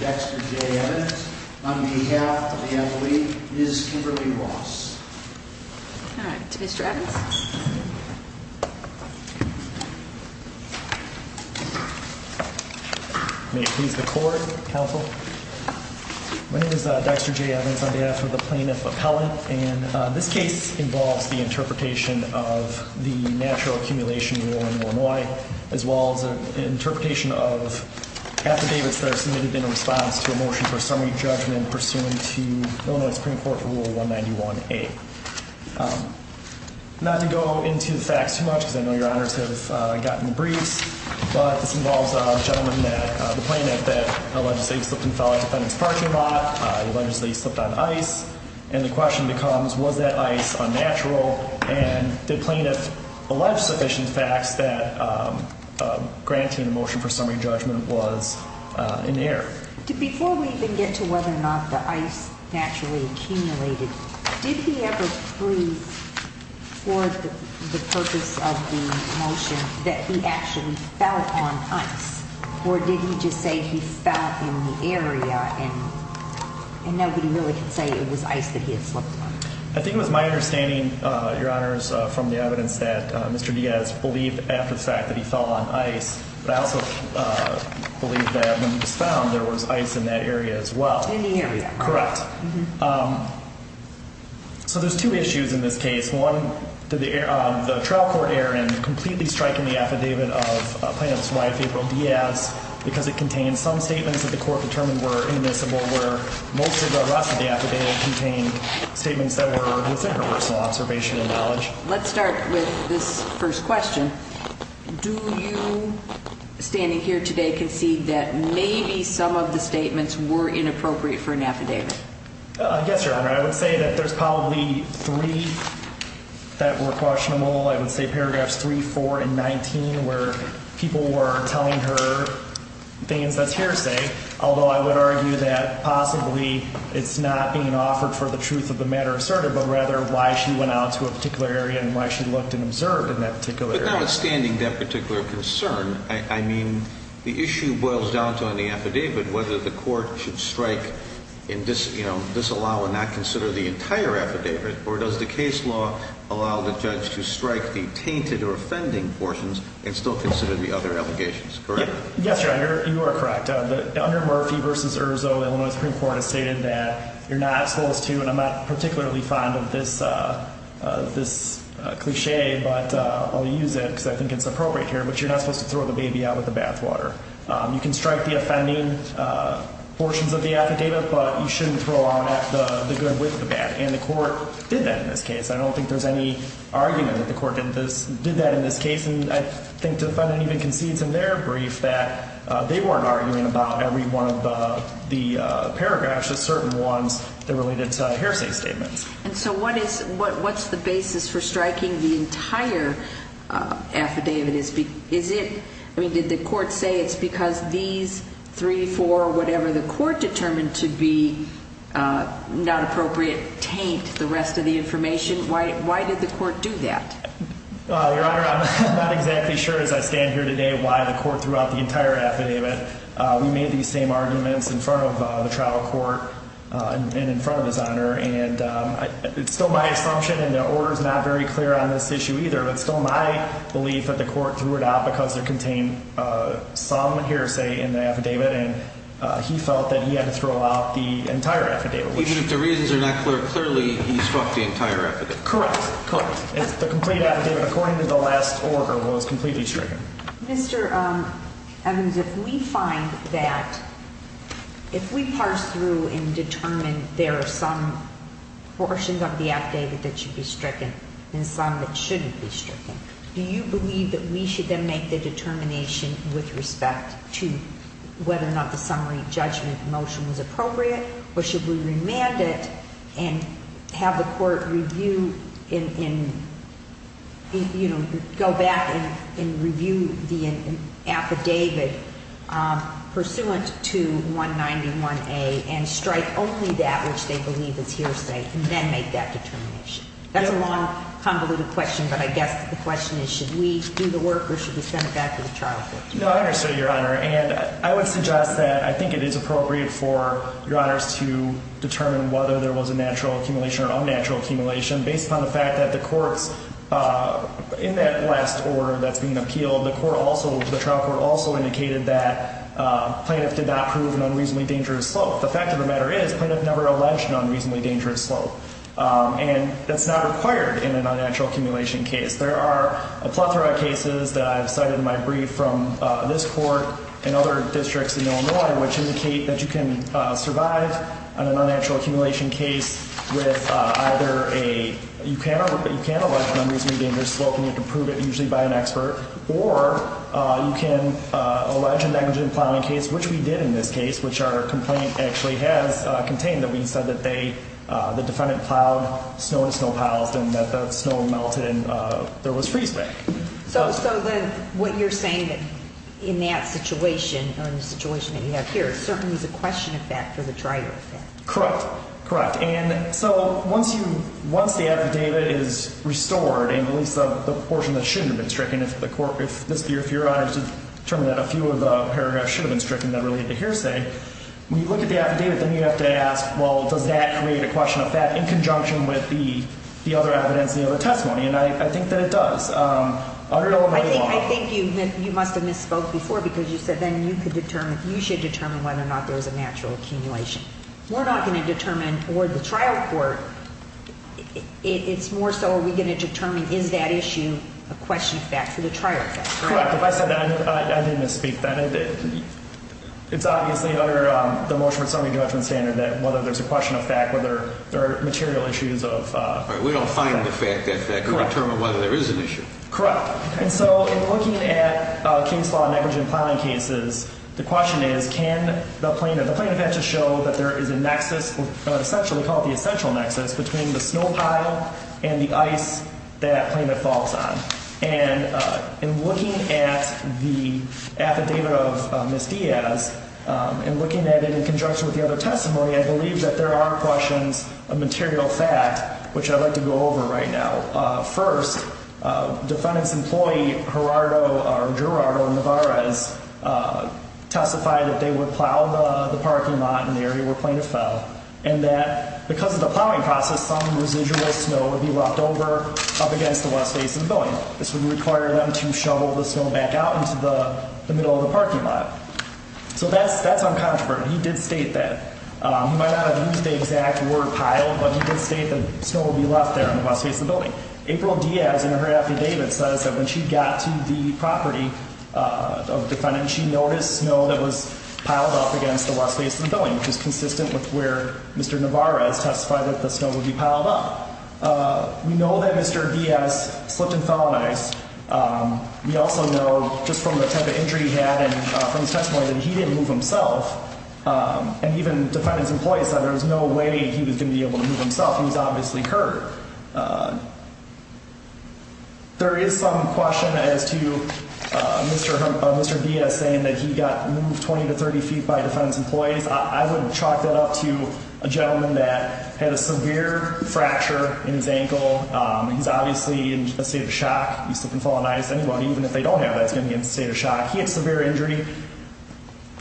Dexter J. Evans, on behalf of the Adelie, is Kimberly Ross. All right, to Mr. Evans. May it please the court, counsel. My name is Dexter J. Evans, on behalf of the plaintiff appellate, and this case involves the interpretation of the natural accumulation rule in Illinois, as well as an interpretation of the motion for summary judgment pursuant to Illinois Supreme Court Rule 191A. Not to go into the facts too much, because I know your honors have gotten the briefs, but this involves a gentleman, the plaintiff, that allegedly slipped and fell at a defendant's parking lot, allegedly slipped on ice, and the question becomes, was that ice unnatural, and the plaintiff alleged sufficient facts that granting the motion for summary judgment was in error. Before we even get to whether or not the ice naturally accumulated, did he ever prove for the purpose of the motion that he actually fell on ice, or did he just say he fell in the area and nobody really could say it was ice that he had slipped on? I think it was my understanding, your honors, from the evidence that Mr. Diaz believed after the fact that he fell on ice, but I also believe that when he was found, there was ice in that area as well. In the area. Correct. So there's two issues in this case. One, did the trial court err in completely striking the affidavit of Plaintiff's wife, April Diaz, because it contained some statements that the court determined were inadmissible, where most of the rest of the affidavit contained statements that were within her personal observation and knowledge? Let's start with this first question. Do you, standing here today, concede that maybe some of the statements were inappropriate for an affidavit? Yes, your honor. I would say that there's probably three that were questionable. I would say paragraphs 3, 4, and 19 where people were telling her things that's hearsay, although I would argue that possibly it's not being offered for the truth of the matter asserted, but rather why she went out to a particular area and why she looked and observed in that particular area. And notwithstanding that particular concern, I mean, the issue boils down to on the affidavit whether the court should strike and disallow and not consider the entire affidavit, or does the case law allow the judge to strike the tainted or offending portions and still consider the other allegations, correct? Yes, your honor. You are correct. Under Murphy v. Erzo, Illinois Supreme Court has stated that you're not supposed to, and I'm not particularly fond of this cliché, but I'll use it because I think it's appropriate here, but you're not supposed to throw the baby out with the bathwater. You can strike the offending portions of the affidavit, but you shouldn't throw out the good with the bad, and the court did that in this case. I don't think there's any argument that the court did that in this case, and I think the defendant even concedes in their brief that they weren't arguing about every one of the paragraphs, just certain ones that related to hearsay statements. And so what is, what's the basis for striking the entire affidavit? Is it, I mean, did the court say it's because these three, four, whatever the court determined to be not appropriate, taint the rest of the information? Why did the court do that? Your honor, I'm not exactly sure as I stand here today why the court threw out the entire affidavit. We made these same arguments in front of the trial court and in front of his honor, and it's still my assumption, and the order's not very clear on this issue either, but it's still my belief that the court threw it out because it contained some hearsay in the affidavit, and he felt that he had to throw out the entire affidavit. Even if the reasons are not clear, clearly he struck the entire affidavit. Correct. Correct. The complete affidavit, according to the last order, was completely stricken. Mr. Evans, if we find that, if we parse through and determine there are some portions of the affidavit that should be stricken and some that shouldn't be stricken, do you believe that we should then make the determination with respect to whether or not the summary judgment motion was appropriate? Or should we remand it and have the court review and go back and review the affidavit pursuant to 191A and strike only that which they believe is hearsay and then make that determination? That's a long, convoluted question, but I guess the question is should we do the work or should we send it back to the trial court? No, I understood, Your Honor. And I would suggest that I think it is appropriate for Your Honors to determine whether there was a natural accumulation or unnatural accumulation based upon the fact that the courts in that last order that's being appealed, the trial court also indicated that plaintiff did not prove an unreasonably dangerous slope. The fact of the matter is plaintiff never alleged an unreasonably dangerous slope. And that's not required in an unnatural accumulation case. There are a plethora of cases that I've cited in my brief from this court and other districts in Illinois which indicate that you can survive an unnatural accumulation case with either a, you can allege an unreasonably dangerous slope and you can prove it usually by an expert. Or you can allege a negligent plowing case, which we did in this case, which our complaint actually has contained that we said that the defendant plowed snow to snow piles and that the snow melted and there was freezeback. So what you're saying in that situation or in the situation that you have here certainly is a question of that for the dryer effect. Correct. And so once you, once the affidavit is restored and at least the portion that shouldn't have been stricken, if the court, if this, if your Honor to determine that a few of the paragraphs should have been stricken that related to hearsay, when you look at the affidavit, then you have to ask, well, does that create a question of fact in conjunction with the other evidence, the other testimony? And I think that it does. Under Illinois law. I think you must have misspoke before because you said then you could determine, you should determine whether or not there was a natural accumulation. We're not going to determine toward the trial court. It's more so. Are we going to determine? Is that issue a question of fact for the trial? Correct. If I said that, I didn't speak that. It's obviously under the motion for summary judgment standard that whether there's a question of fact, whether there are material issues of we don't find the fact that that could determine whether there is an issue. Correct. And so in looking at case law negligent filing cases, the question is, can the plaintiff, the plaintiff has to show that there is a nexus, essentially called the essential nexus between the snow pile and the ice that claimant falls on. And in looking at the affidavit of Miss Diaz and looking at it in conjunction with the other testimony, I believe that there are questions of material fact, which I'd like to go over right now. First, defendant's employee, Gerardo Navarez, testified that they would plow the parking lot in the area where plaintiff fell and that because of the plowing process, some residual snow would be left over up against the west face of the building. This would require them to shovel the snow back out into the middle of the parking lot. So that's that's uncontroversial. He did state that. He might not have used the exact word pile, but he did state that snow would be left there on the west face of the building. April Diaz in her affidavit says that when she got to the property of defendant, she noticed snow that was piled up against the west face of the building, which is consistent with where Mr. Navarez testified that the snow would be piled up. We know that Mr. Diaz slipped and felonized. We also know just from the type of injury he had and from his testimony that he didn't move himself. And even defendant's employees said there was no way he was going to be able to move himself. He was obviously hurt. There is some question as to Mr. Diaz saying that he got moved 20 to 30 feet by defendant's employees. I would chalk that up to a gentleman that had a severe fracture in his ankle. He's obviously in a state of shock. He slipped and felonized. Anybody, even if they don't have that, is going to be in a state of shock. He had severe injury.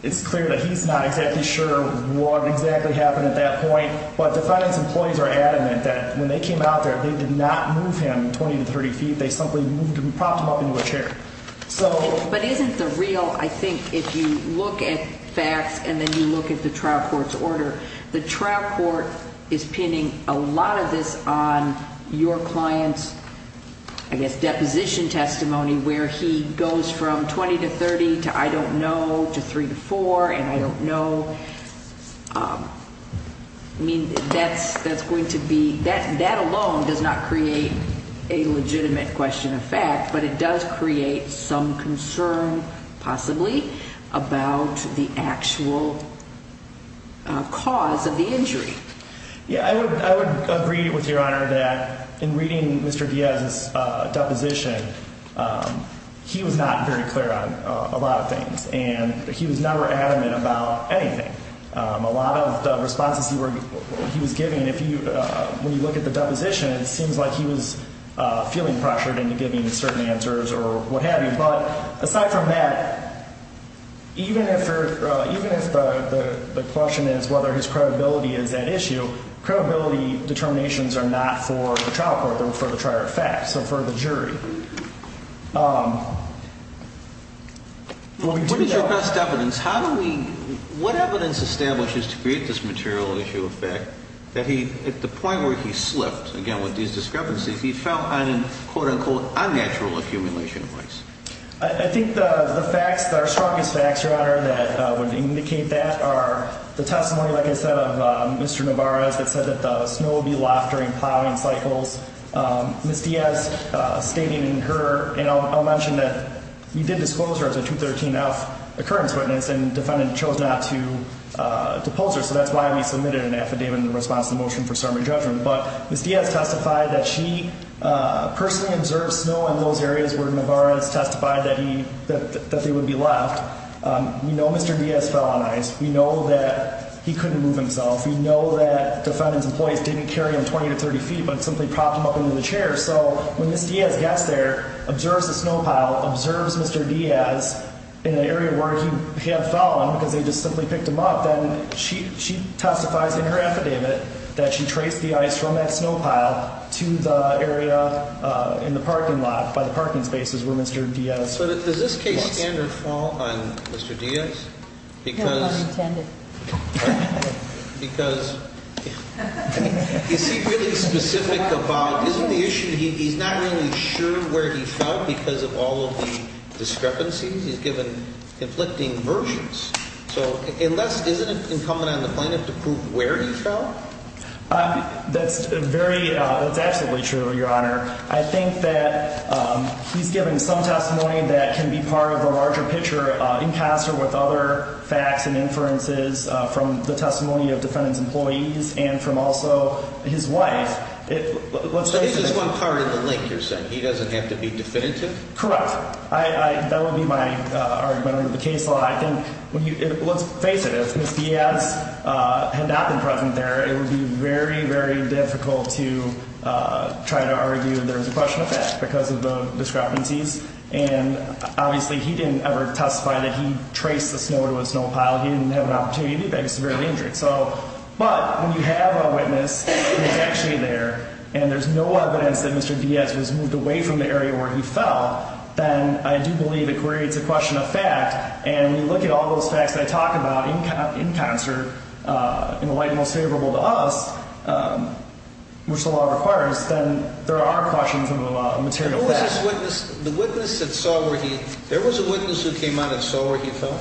It's clear that he's not exactly sure what exactly happened at that point. But defendant's employees are adamant that when they came out there, they did not move him 20 to 30 feet. They simply moved him, propped him up into a chair. But isn't the real, I think if you look at facts and then you look at the trial court's order, the trial court is pinning a lot of this on your client's, I guess, deposition testimony where he goes from 20 to 30 to I don't know to 3 to 4 and I don't know. I mean, that's going to be, that alone does not create a legitimate question of fact. But it does create some concern, possibly, about the actual cause of the injury. Yeah, I would agree with Your Honor that in reading Mr. Diaz's deposition, he was not very clear on a lot of things. And he was never adamant about anything. A lot of the responses he was giving, when you look at the deposition, it seems like he was feeling pressured into giving certain answers or what have you. But aside from that, even if the question is whether his credibility is at issue, credibility determinations are not for the trial court, they're for the trier of facts, so for the jury. What is your best evidence? How do we, what evidence establishes to create this material issue of fact that he, the point where he slipped, again, with these discrepancies, he fell on quote-unquote unnatural accumulation of facts? I think the facts, the strongest facts, Your Honor, that would indicate that are the testimony, like I said, of Mr. Navarez that said that the snow would be locked during plowing cycles. Ms. Diaz stating in her, and I'll mention that you did disclose her as a 213F occurrence witness and defendant chose not to pose her, so that's why we submitted an affidavit in response to the motion for sermon judgment. But Ms. Diaz testified that she personally observed snow in those areas where Navarez testified that he, that they would be locked. We know Mr. Diaz fell on ice. We know that he couldn't move himself. We know that defendant's employees didn't carry him 20 to 30 feet but simply propped him up into the chair. So when Ms. Diaz gets there, observes the snow pile, observes Mr. Diaz in an area where he had fallen because they just simply picked him up, then she testifies in her affidavit that she traced the ice from that snow pile to the area in the parking lot by the parking spaces where Mr. Diaz was. So does this case standard fall on Mr. Diaz? No, not intended. Because, is he really specific about, isn't the issue he's not really sure where he fell because of all of the discrepancies he's given conflicting versions? So unless, isn't it incumbent on the plaintiff to prove where he fell? That's very, that's absolutely true, Your Honor. I think that he's given some testimony that can be part of a larger picture encastered with other facts and inferences from the testimony of defendant's employees and from also his wife. This is one part of the link you're saying. He doesn't have to be definitive? Correct. That would be my argument in the case law. Let's face it. If Mr. Diaz had not been present there, it would be very, very difficult to try to argue there's a question of fact because of the discrepancies. And obviously he didn't ever testify that he traced the snow to a snow pile. He didn't have an opportunity to do that. He was severely injured. So, but when you have a witness who's actually there and there's no evidence that Mr. Diaz was moved away from the area where he fell, then I do believe it creates a question of fact. And when you look at all those facts that I talk about in concert in the light most favorable to us, which the law requires, then there are questions of a material fact. The witness that saw where he, there was a witness who came out and saw where he fell?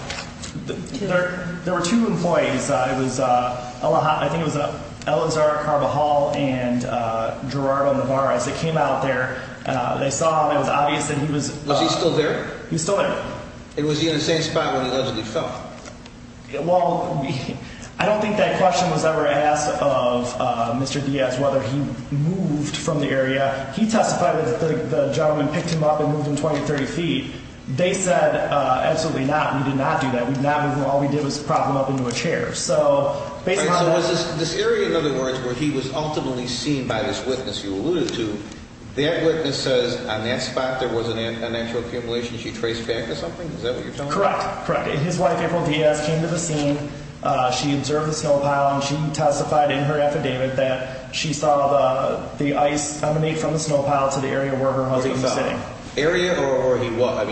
There were two employees. It was, I think it was Elazar Carbajal and Gerardo Navarez that came out there. They saw him. It was obvious that he was. Was he still there? He was still there. And was he in the same spot where he allegedly fell? Well, I don't think that question was ever asked of Mr. Diaz, whether he moved from the area. He testified that the gentleman picked him up and moved him 20, 30 feet. They said, absolutely not. We did not do that. We did not move him. All we did was prop him up into a chair. So was this area, in other words, where he was ultimately seen by this witness you alluded to, that witness says on that spot there was an actual accumulation? She traced back to something? Is that what you're telling me? Correct. His wife, April Diaz, came to the scene. She observed the snow pile, and she testified in her affidavit that she saw the ice emanate from the snow pile to the area where her husband was sitting. Area or where he was?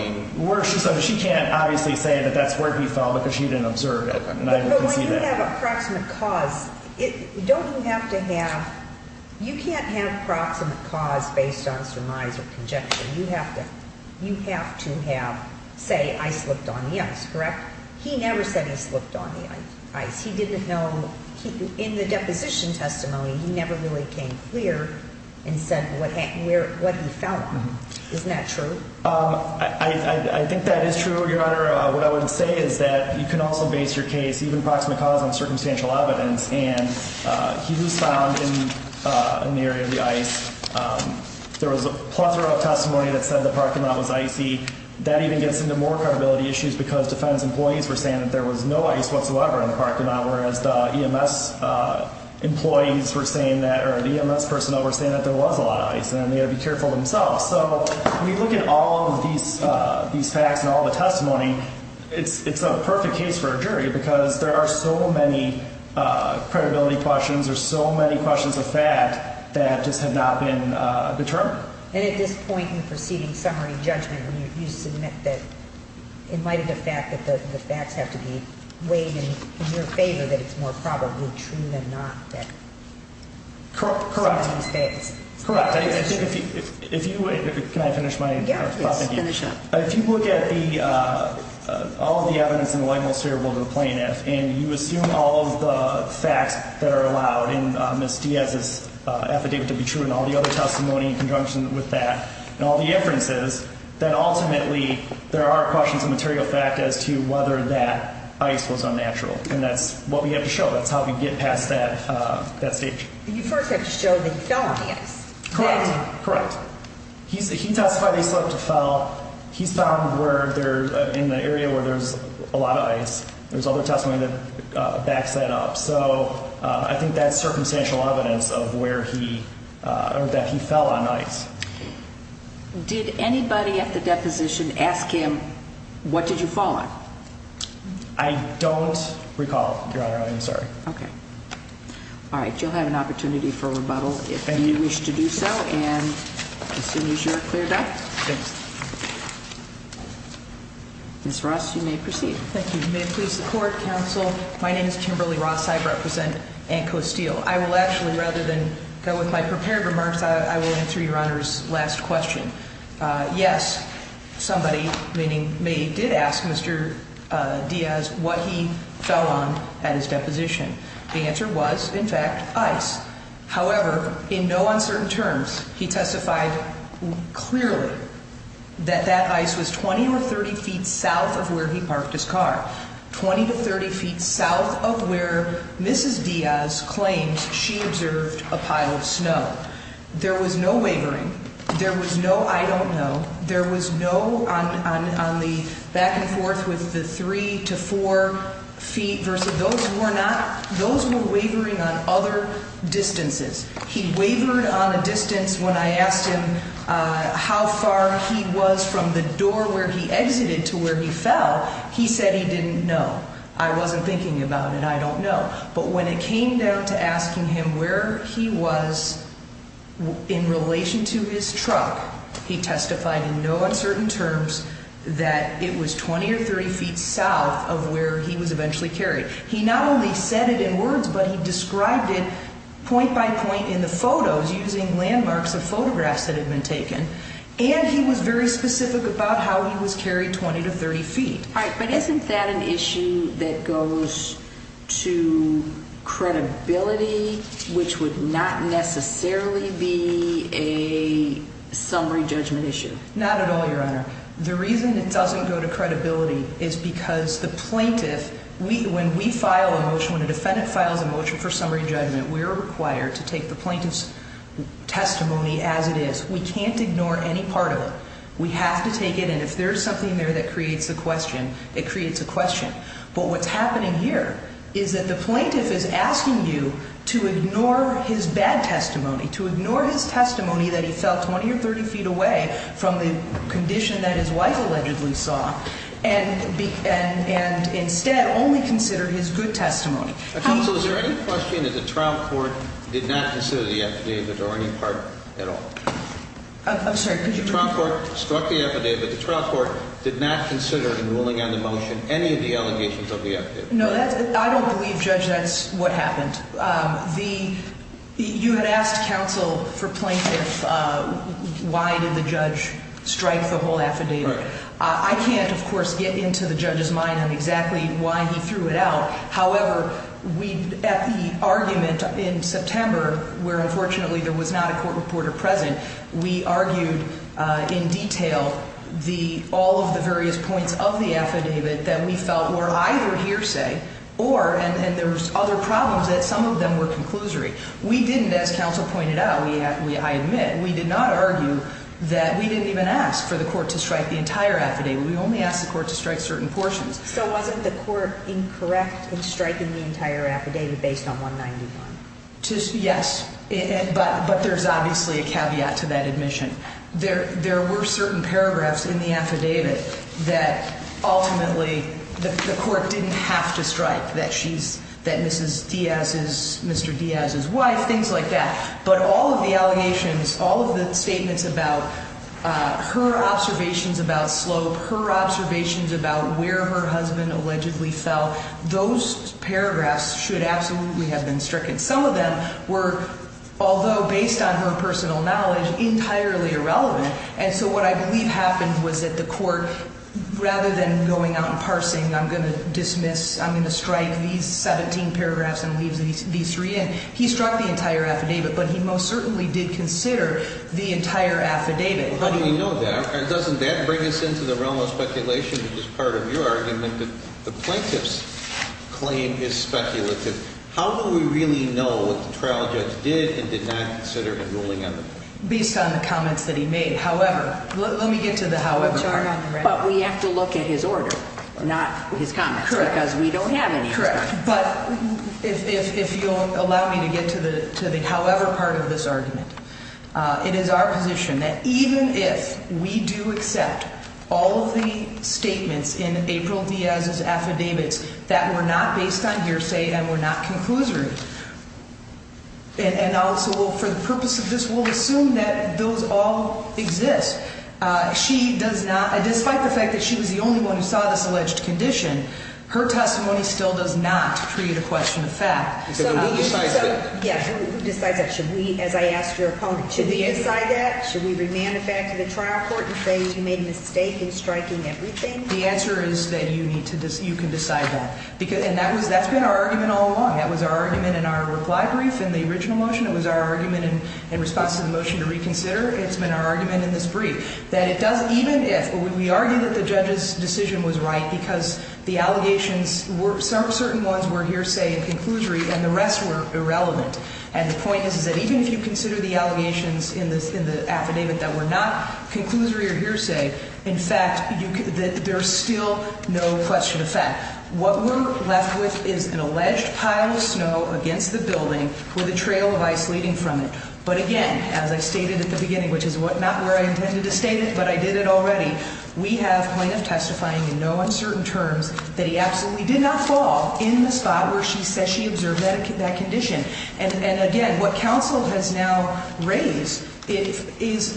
She can't obviously say that that's where he fell because she didn't observe it. But when you have a proximate cause, don't you have to have you can't have proximate cause based on surmise or conjecture. You have to have, say, ice slipped on the ice, correct? He never said he slipped on the ice. He didn't know. In the deposition testimony, he never really came clear and said what he felt. Isn't that true? I think that is true, Your Honor. Your Honor, what I would say is that you can also base your case, even proximate cause, on circumstantial evidence. And he was found in an area of the ice. There was a plethora of testimony that said the parking lot was icy. That even gets into more credibility issues because defense employees were saying that there was no ice whatsoever in the parking lot, whereas the EMS employees were saying that or the EMS personnel were saying that there was a lot of ice, and they ought to be careful themselves. So when you look at all of these facts and all the testimony, it's a perfect case for a jury because there are so many credibility questions. There's so many questions of fact that just have not been determined. And at this point in proceeding summary judgment, you submit that in light of the fact that the facts have to be weighed in your favor, that it's more probably true than not that something is faked. Correct. Correct. I think if you – can I finish my thought? Yes, finish up. If you look at all of the evidence in the light most favorable to the plaintiff, and you assume all of the facts that are allowed in Ms. Diaz's affidavit to be true and all the other testimony in conjunction with that, and all the inferences, then ultimately there are questions of material fact as to whether that ice was unnatural. And that's what we have to show. That's how we get past that stage. You first have to show that he fell on ice. Correct. Correct. He testified he slipped and fell. He's found where there's – in the area where there's a lot of ice. There's other testimony that backs that up. So I think that's circumstantial evidence of where he – or that he fell on ice. Did anybody at the deposition ask him, what did you fall on? I don't recall, Your Honor. I'm sorry. Okay. All right. You'll have an opportunity for rebuttal if you wish to do so, and as soon as you're cleared up. Thanks. Ms. Ross, you may proceed. Thank you. May it please the Court, Counsel, my name is Kimberly Ross. I represent Ann Costile. I will actually, rather than go with my prepared remarks, I will answer Your Honor's last question. Yes, somebody, meaning me, did ask Mr. Diaz what he fell on at his deposition. The answer was, in fact, ice. However, in no uncertain terms, he testified clearly that that ice was 20 or 30 feet south of where he parked his car, 20 to 30 feet south of where Mrs. Diaz claims she observed a pile of snow. There was no wavering. There was no I don't know. There was no on the back and forth with the three to four feet versus those who are not. Those were wavering on other distances. He wavered on a distance when I asked him how far he was from the door where he exited to where he fell. He said he didn't know. I wasn't thinking about it. I don't know. But when it came down to asking him where he was in relation to his truck, he testified in no uncertain terms that it was 20 or 30 feet south of where he was eventually carried. He not only said it in words, but he described it point by point in the photos using landmarks of photographs that had been taken. And he was very specific about how he was carried 20 to 30 feet. But isn't that an issue that goes to credibility, which would not necessarily be a summary judgment issue? Not at all, Your Honor. The reason it doesn't go to credibility is because the plaintiff, when we file a motion, when a defendant files a motion for summary judgment, we're required to take the plaintiff's testimony as it is. We can't ignore any part of it. We have to take it. And if there's something there that creates a question, it creates a question. But what's happening here is that the plaintiff is asking you to ignore his bad testimony, to ignore his testimony that he fell 20 or 30 feet away from the condition that his wife allegedly saw, and instead only consider his good testimony. Counsel, is there any question that the trial court did not consider the evidence or any part at all? I'm sorry. The trial court struck the affidavit. The trial court did not consider in ruling on the motion any of the allegations of the affidavit. No, I don't believe, Judge, that's what happened. You had asked counsel for plaintiff why did the judge strike the whole affidavit. I can't, of course, get into the judge's mind on exactly why he threw it out. However, at the argument in September, where unfortunately there was not a court reporter present, we argued in detail all of the various points of the affidavit that we felt were either hearsay or, and there was other problems, that some of them were conclusory. We didn't, as counsel pointed out, I admit, we did not argue that we didn't even ask for the court to strike the entire affidavit. We only asked the court to strike certain portions. So wasn't the court incorrect in striking the entire affidavit based on 191? Yes, but there's obviously a caveat to that admission. There were certain paragraphs in the affidavit that ultimately the court didn't have to strike, that she's, that Mrs. Diaz is, Mr. Diaz's wife, things like that. But all of the allegations, all of the statements about her observations about Slope, her observations about where her husband allegedly fell, those paragraphs should absolutely have been stricken. Some of them were, although based on her personal knowledge, entirely irrelevant. And so what I believe happened was that the court, rather than going out and parsing, I'm going to dismiss, I'm going to strike these 17 paragraphs and leave these three in. He struck the entire affidavit, but he most certainly did consider the entire affidavit. How do we know that? And doesn't that bring us into the realm of speculation, which is part of your argument that the plaintiff's claim is speculative? How do we really know what the trial judge did and did not consider in ruling on the point? Based on the comments that he made. However, let me get to the however part. But we have to look at his order, not his comments, because we don't have any. But if you allow me to get to the however part of this argument, it is our position that even if we do accept all of the statements in April Diaz's affidavits that were not based on hearsay and were not conclusory. And also for the purpose of this, we'll assume that those all exist. Despite the fact that she was the only one who saw this alleged condition, her testimony still does not create a question of fact. Who decides that? Yes, who decides that? Should we, as I asked your opponent, should we decide that? Should we remand the fact to the trial court and say you made a mistake in striking everything? The answer is that you can decide that. And that's been our argument all along. That was our argument in our reply brief in the original motion. It was our argument in response to the motion to reconsider. It's been our argument in this brief. That it doesn't, even if, we argue that the judge's decision was right because the allegations, certain ones were hearsay and conclusory and the rest were irrelevant. And the point is that even if you consider the allegations in the affidavit that were not conclusory or hearsay, in fact, there's still no question of fact. What we're left with is an alleged pile of snow against the building with a trail of ice leading from it. But again, as I stated at the beginning, which is not where I intended to state it, but I did it already. We have plaintiff testifying in no uncertain terms that he absolutely did not fall in the spot where she said she observed that condition. And again, what counsel has now raised is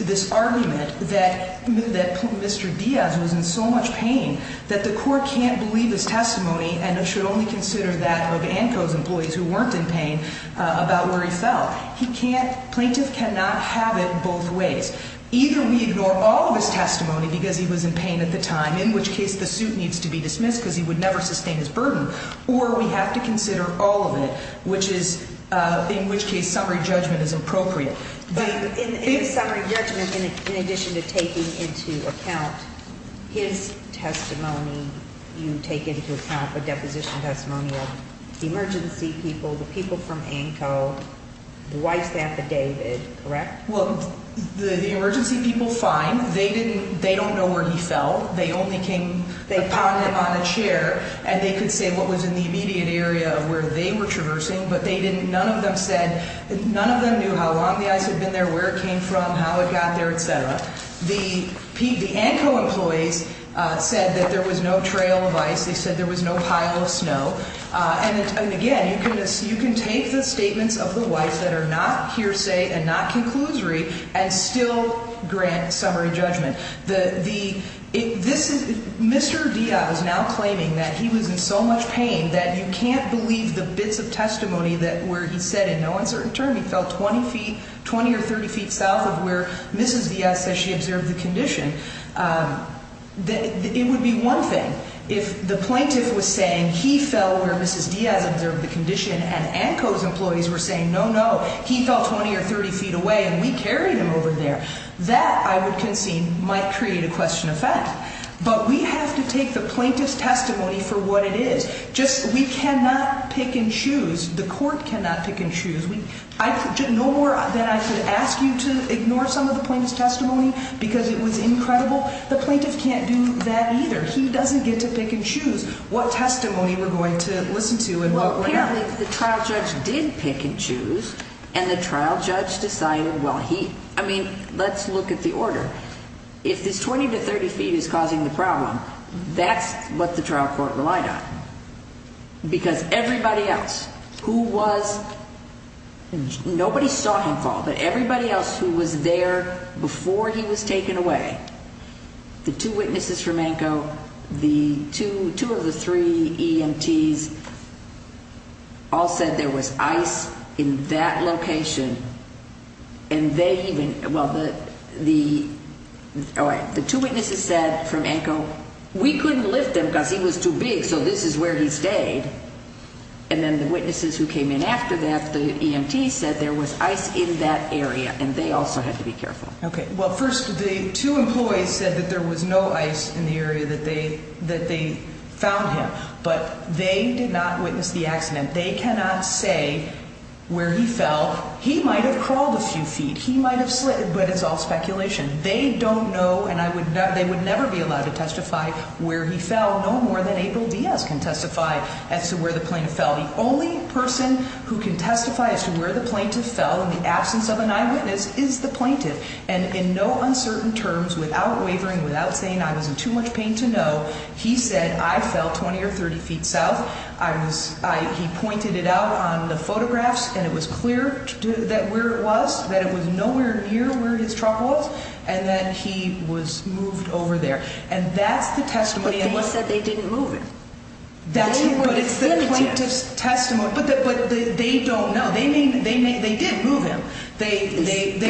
this argument that Mr. Diaz was in so much pain that the court can't believe his testimony and should only consider that of ANCO's employees who weren't in pain about where he fell. He can't, plaintiff cannot have it both ways. Either we ignore all of his testimony because he was in pain at the time, in which case the suit needs to be dismissed because he would never sustain his burden. Or we have to consider all of it, which is, in which case summary judgment is appropriate. In summary judgment, in addition to taking into account his testimony, you take into account the deposition testimony of the emergency people, the people from ANCO, the wife's affidavit, correct? Well, the emergency people, fine. They don't know where he fell. They only came upon him on a chair, and they could say what was in the immediate area of where they were traversing. But they didn't, none of them said, none of them knew how long the ice had been there, where it came from, how it got there, etc. The ANCO employees said that there was no trail of ice. They said there was no pile of snow. And again, you can take the statements of the wife that are not hearsay and not conclusory and still grant summary judgment. Mr. Diaz is now claiming that he was in so much pain that you can't believe the bits of testimony where he said in no uncertain terms he fell 20 or 30 feet south of where Mrs. Diaz said she observed the condition. It would be one thing if the plaintiff was saying he fell where Mrs. Diaz observed the condition, and ANCO's employees were saying, no, no, he fell 20 or 30 feet away, and we carried him over there. That, I would concede, might create a question of fact. But we have to take the plaintiff's testimony for what it is. Just we cannot pick and choose. The court cannot pick and choose. No more than I could ask you to ignore some of the plaintiff's testimony because it was incredible. The plaintiff can't do that either. He doesn't get to pick and choose what testimony we're going to listen to and what we're going to- But apparently the trial judge did pick and choose, and the trial judge decided, well, he-I mean, let's look at the order. If this 20 to 30 feet is causing the problem, that's what the trial court relied on because everybody else who was-nobody saw him fall, but everybody else who was there before he was taken away, the two witnesses from ANCO, the two of the three EMTs all said there was ice in that location, and they even-well, the two witnesses said from ANCO, we couldn't lift him because he was too big, so this is where he stayed. And then the witnesses who came in after that, the EMT said there was ice in that area, and they also had to be careful. Okay. Well, first, the two employees said that there was no ice in the area that they found him, but they did not witness the accident. They cannot say where he fell. He might have crawled a few feet. He might have slid, but it's all speculation. They don't know, and I would-they would never be allowed to testify where he fell, no more than April Diaz can testify as to where the plaintiff fell. The only person who can testify as to where the plaintiff fell in the absence of an eyewitness is the plaintiff, and in no uncertain terms, without wavering, without saying I was in too much pain to know, he said I fell 20 or 30 feet south. I was-he pointed it out on the photographs, and it was clear that where it was, that it was nowhere near where his truck was, and that he was moved over there. And that's the testimony- But they said they didn't move him. But it's the plaintiff's testimony, but they don't know. They did move him. They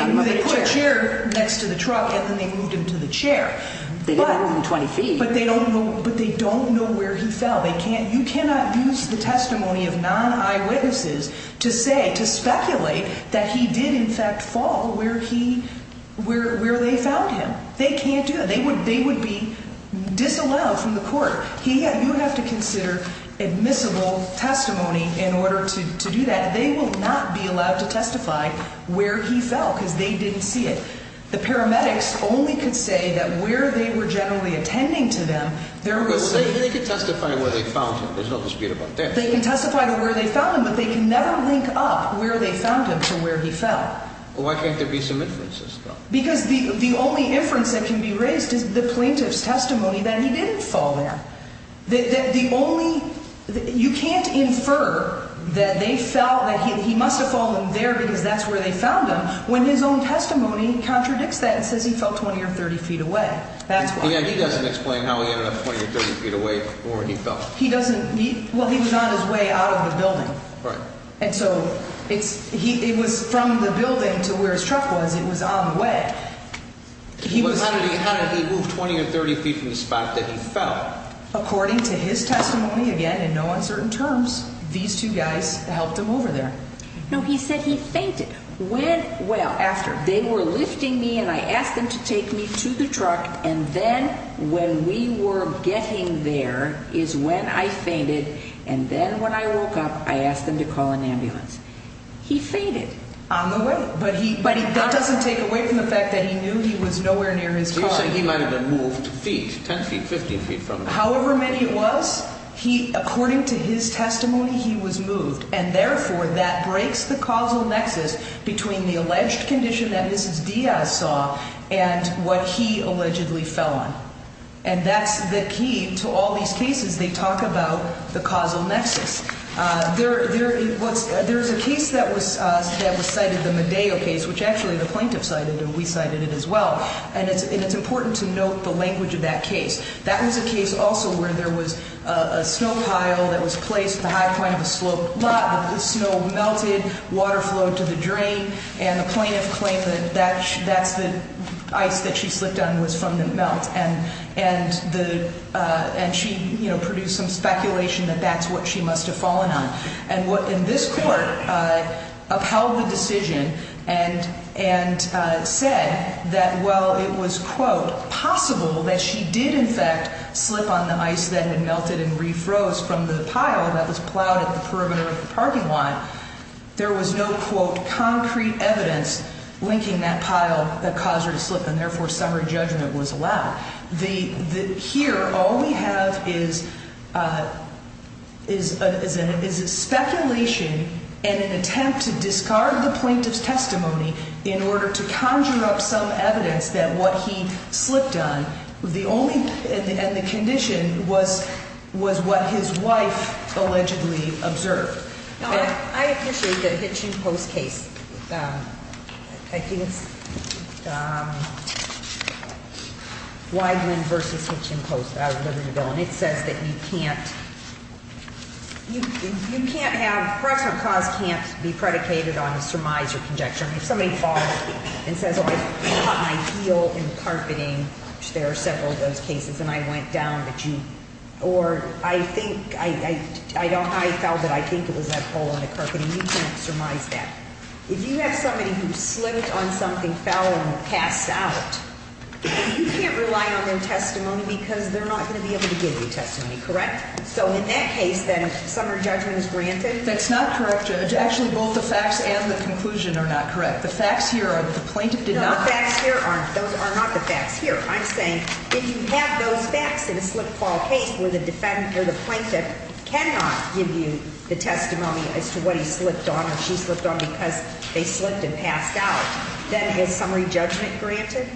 put a chair next to the truck, and then they moved him to the chair. But- They didn't move him 20 feet. But they don't know where he fell. They can't-you cannot use the testimony of non-eyewitnesses to say-to speculate that he did, in fact, fall where he-where they found him. They can't do that. They would be disallowed from the court. He-you have to consider admissible testimony in order to do that. They will not be allowed to testify where he fell because they didn't see it. The paramedics only could say that where they were generally attending to them, there was- But they could testify where they found him. There's no dispute about that. They can testify to where they found him, but they can never link up where they found him to where he fell. Why can't there be some inferences, though? Because the only inference that can be raised is the plaintiff's testimony that he didn't fall there. The only-you can't infer that they felt that he must have fallen there because that's where they found him when his own testimony contradicts that and says he fell 20 or 30 feet away. That's why. Yeah, he doesn't explain how he ended up 20 or 30 feet away or where he fell. He doesn't-well, he was on his way out of the building. Right. And so it's-it was from the building to where his truck was. It was on the way. He was- How did he move 20 or 30 feet from the spot that he fell? According to his testimony, again, in no uncertain terms, these two guys helped him over there. No, he said he fainted when-well, after. They were lifting me, and I asked them to take me to the truck, and then when we were getting there is when I fainted, and then when I woke up, I asked them to call an ambulance. He fainted. On the way. But he- But that doesn't take away from the fact that he knew he was nowhere near his car. You're saying he might have been moved feet, 10 feet, 15 feet from there. However many it was, he-according to his testimony, he was moved. And, therefore, that breaks the causal nexus between the alleged condition that Mrs. Diaz saw and what he allegedly fell on. And that's the key to all these cases. They talk about the causal nexus. There is a case that was cited, the Medeo case, which actually the plaintiff cited, and we cited it as well, and it's important to note the language of that case. That was a case also where there was a snow pile that was placed at the high point of a sloped lot. The snow melted, water flowed to the drain, and the plaintiff claimed that that's the ice that she slipped on was from the melt. And the-and she, you know, produced some speculation that that's what she must have fallen on. And what-and this court upheld the decision and-and said that while it was, quote, possible that she did, in fact, slip on the ice that had melted and refroze from the pile that was plowed at the perimeter of the parking lot, there was no, quote, concrete evidence linking that pile that caused her to slip, and, therefore, summary judgment was allowed. The-the-here, all we have is-is a-is a speculation and an attempt to discard the plaintiff's testimony in order to conjure up some evidence that what he slipped on, the only-and the condition was-was what his wife allegedly observed. No, I-I appreciate the Hitchin Post case. I think it's Wigeland v. Hitchin Post. I was looking at the bill, and it says that you can't-you-you can't have-proximate cause can't be predicated on a surmise or conjecture. And if somebody falls and says, oh, I caught my heel in carpeting, which there are several of those cases, and I went down the jeep. Or I think I-I-I don't-I fell, but I think it was that hole in the carpeting, you can't surmise that. If you have somebody who slipped on something, fell, and passed out, you can't rely on their testimony because they're not going to be able to give you testimony, correct? So, in that case, then, summary judgment is granted? That's not correct. Actually, both the facts and the conclusion are not correct. The facts here are that the plaintiff did not- No, the facts here aren't. Those are not the facts here. I'm saying if you have those facts in a slip-and-fall case where the defendant or the plaintiff cannot give you the testimony as to what he slipped on or she slipped on because they slipped and passed out, then is summary judgment granted?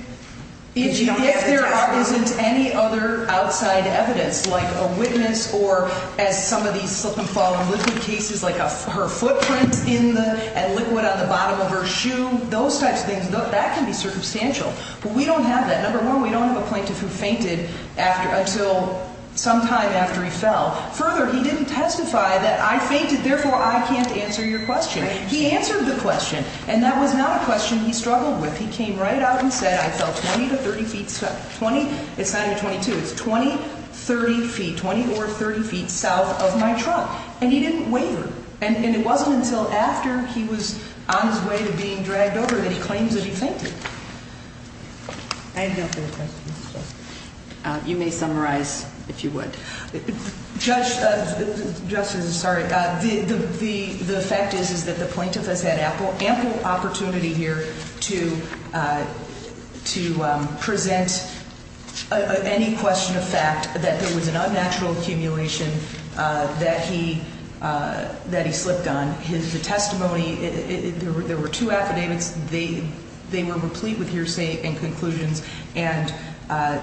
If you don't have the testimony. If there isn't any other outside evidence, like a witness or as some of these slip-and-fall liquid cases, like her footprint in the-and liquid on the bottom of her shoe, those types of things, that can be circumstantial. But we don't have that. Number one, we don't have a plaintiff who fainted until sometime after he fell. Further, he didn't testify that I fainted, therefore, I can't answer your question. He answered the question, and that was not a question he struggled with. He came right out and said, I fell 20 to 30 feet-it's not even 22. It's 20, 30 feet, 20 or 30 feet south of my trunk. And he didn't waver. And it wasn't until after he was on his way to being dragged over that he claims that he fainted. I have no further questions. You may summarize, if you would. Justice, sorry. The fact is, is that the plaintiff has had ample opportunity here to present any question of fact that there was an unnatural accumulation that he slipped on. The testimony, there were two affidavits. They were replete with hearsay and conclusions. And,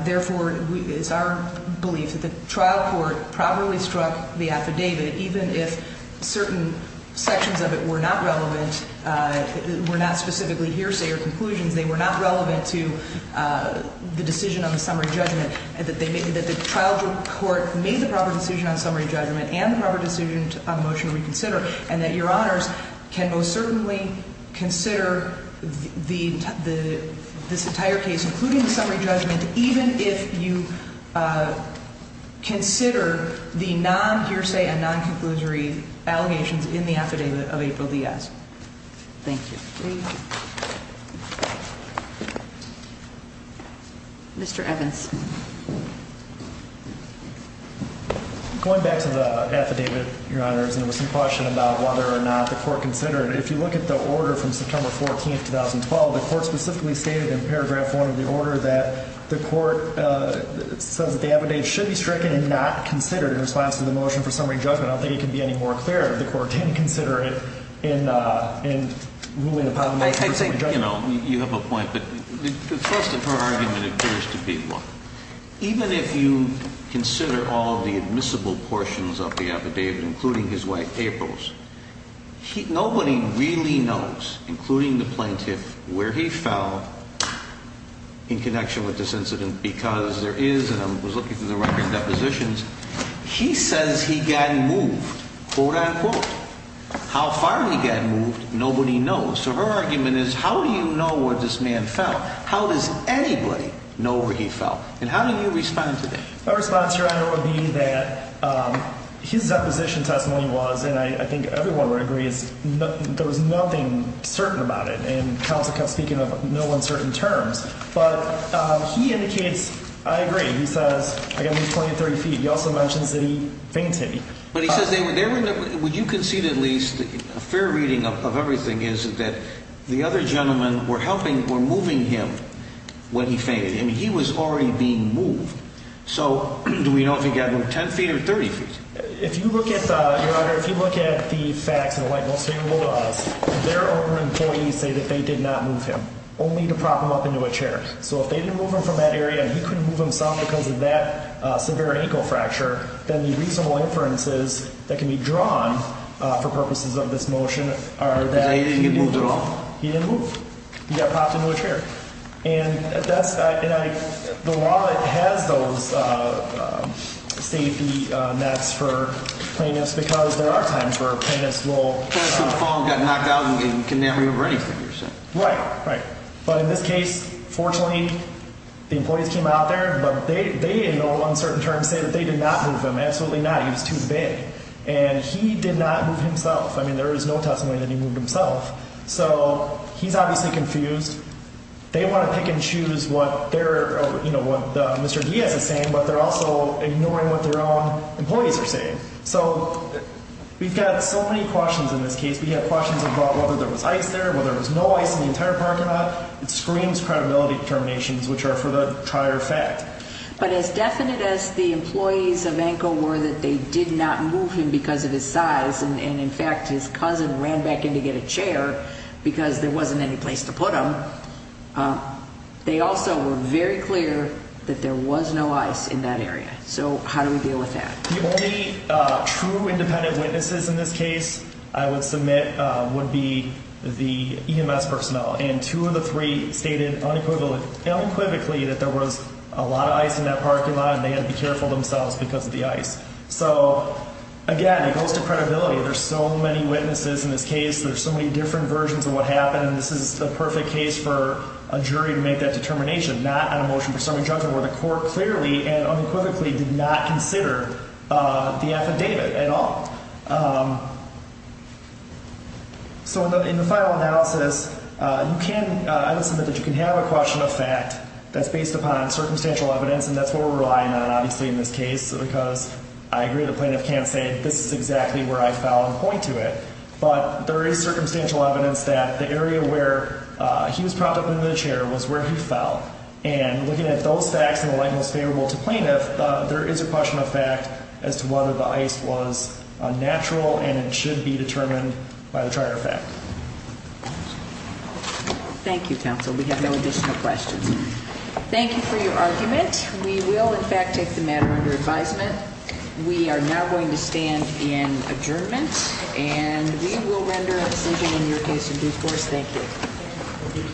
therefore, it's our belief that the trial court properly struck the affidavit, even if certain sections of it were not relevant, were not specifically hearsay or conclusions. They were not relevant to the decision on the summary judgment. And that the trial court made the proper decision on summary judgment and the proper decision on motion to reconsider. And that Your Honors can most certainly consider this entire case, including the summary judgment, even if you consider the non-hearsay and non-conclusory allegations in the affidavit of April Diaz. Thank you. Thank you. Mr. Evans. Going back to the affidavit, Your Honors, there was some question about whether or not the court considered it. If you look at the order from September 14, 2012, the court specifically stated in paragraph one of the order that the court says that the affidavit should be stricken and not considered in response to the motion for summary judgment. I don't think it can be any more clear if the court didn't consider it in ruling upon the motion. You have a point, but the thrust of her argument appears to be one. Even if you consider all the admissible portions of the affidavit, including his wife April's, nobody really knows, including the plaintiff, where he fell in connection with this incident. Because there is, and I was looking through the record of depositions, he says he got moved, quote unquote. How far he got moved, nobody knows. So her argument is how do you know where this man fell? How does anybody know where he fell? And how do you respond to that? My response, Your Honor, would be that his deposition testimony was, and I think everyone would agree, there was nothing certain about it. And counsel kept speaking of no uncertain terms. But he indicates I agree. He says I got moved 20 or 30 feet. He also mentions that he fainted. But he says, would you concede at least a fair reading of everything is that the other gentlemen were helping, were moving him when he fainted. I mean, he was already being moved. So do we know if he got moved 10 feet or 30 feet? If you look at, Your Honor, if you look at the facts and the legislation laws, there are employees who say that they did not move him, only to prop him up into a chair. So if they didn't move him from that area, he couldn't move himself because of that severe ankle fracture. Then the reasonable inferences that can be drawn for purposes of this motion are that he didn't move. He didn't get moved at all? He didn't move. He got propped into a chair. And that's, and I, the law has those safety nets for plaintiffs because there are times where plaintiffs will. Plaintiff could fall and get knocked out and condemn you for anything, you're saying. Right, right. But in this case, fortunately, the employees came out there, but they in all uncertain terms say that they did not move him. Absolutely not. He was too big. And he did not move himself. I mean, there is no testimony that he moved himself. So he's obviously confused. They want to pick and choose what they're, you know, what Mr. Diaz is saying, but they're also ignoring what their own employees are saying. So we've got so many questions in this case. We have questions about whether there was ice there, whether there was no ice in the entire parking lot. It screams credibility determinations, which are for the prior fact. But as definite as the employees of ANCO were that they did not move him because of his size, and in fact his cousin ran back in to get a chair because there wasn't any place to put him, they also were very clear that there was no ice in that area. So how do we deal with that? The only true independent witnesses in this case I would submit would be the EMS personnel, and two of the three stated unequivocally that there was a lot of ice in that parking lot, and they had to be careful themselves because of the ice. So, again, it goes to credibility. There's so many witnesses in this case. There's so many different versions of what happened, and this is the perfect case for a jury to make that determination, not on a motion for serving judgment where the court clearly and unequivocally did not consider the affidavit at all. So in the final analysis, I would submit that you can have a question of fact that's based upon circumstantial evidence, and that's what we're relying on, obviously, in this case, because I agree the plaintiff can't say this is exactly where I fell and point to it, but there is circumstantial evidence that the area where he was propped up into the chair was where he fell, and looking at those facts in the light most favorable to plaintiff, there is a question of fact as to whether the ice was natural and it should be determined by the trier of fact. Thank you, counsel. We have no additional questions. Thank you for your argument. We will, in fact, take the matter under advisement. We are now going to stand in adjournment, and we will render a decision in your case in due course. Thank you.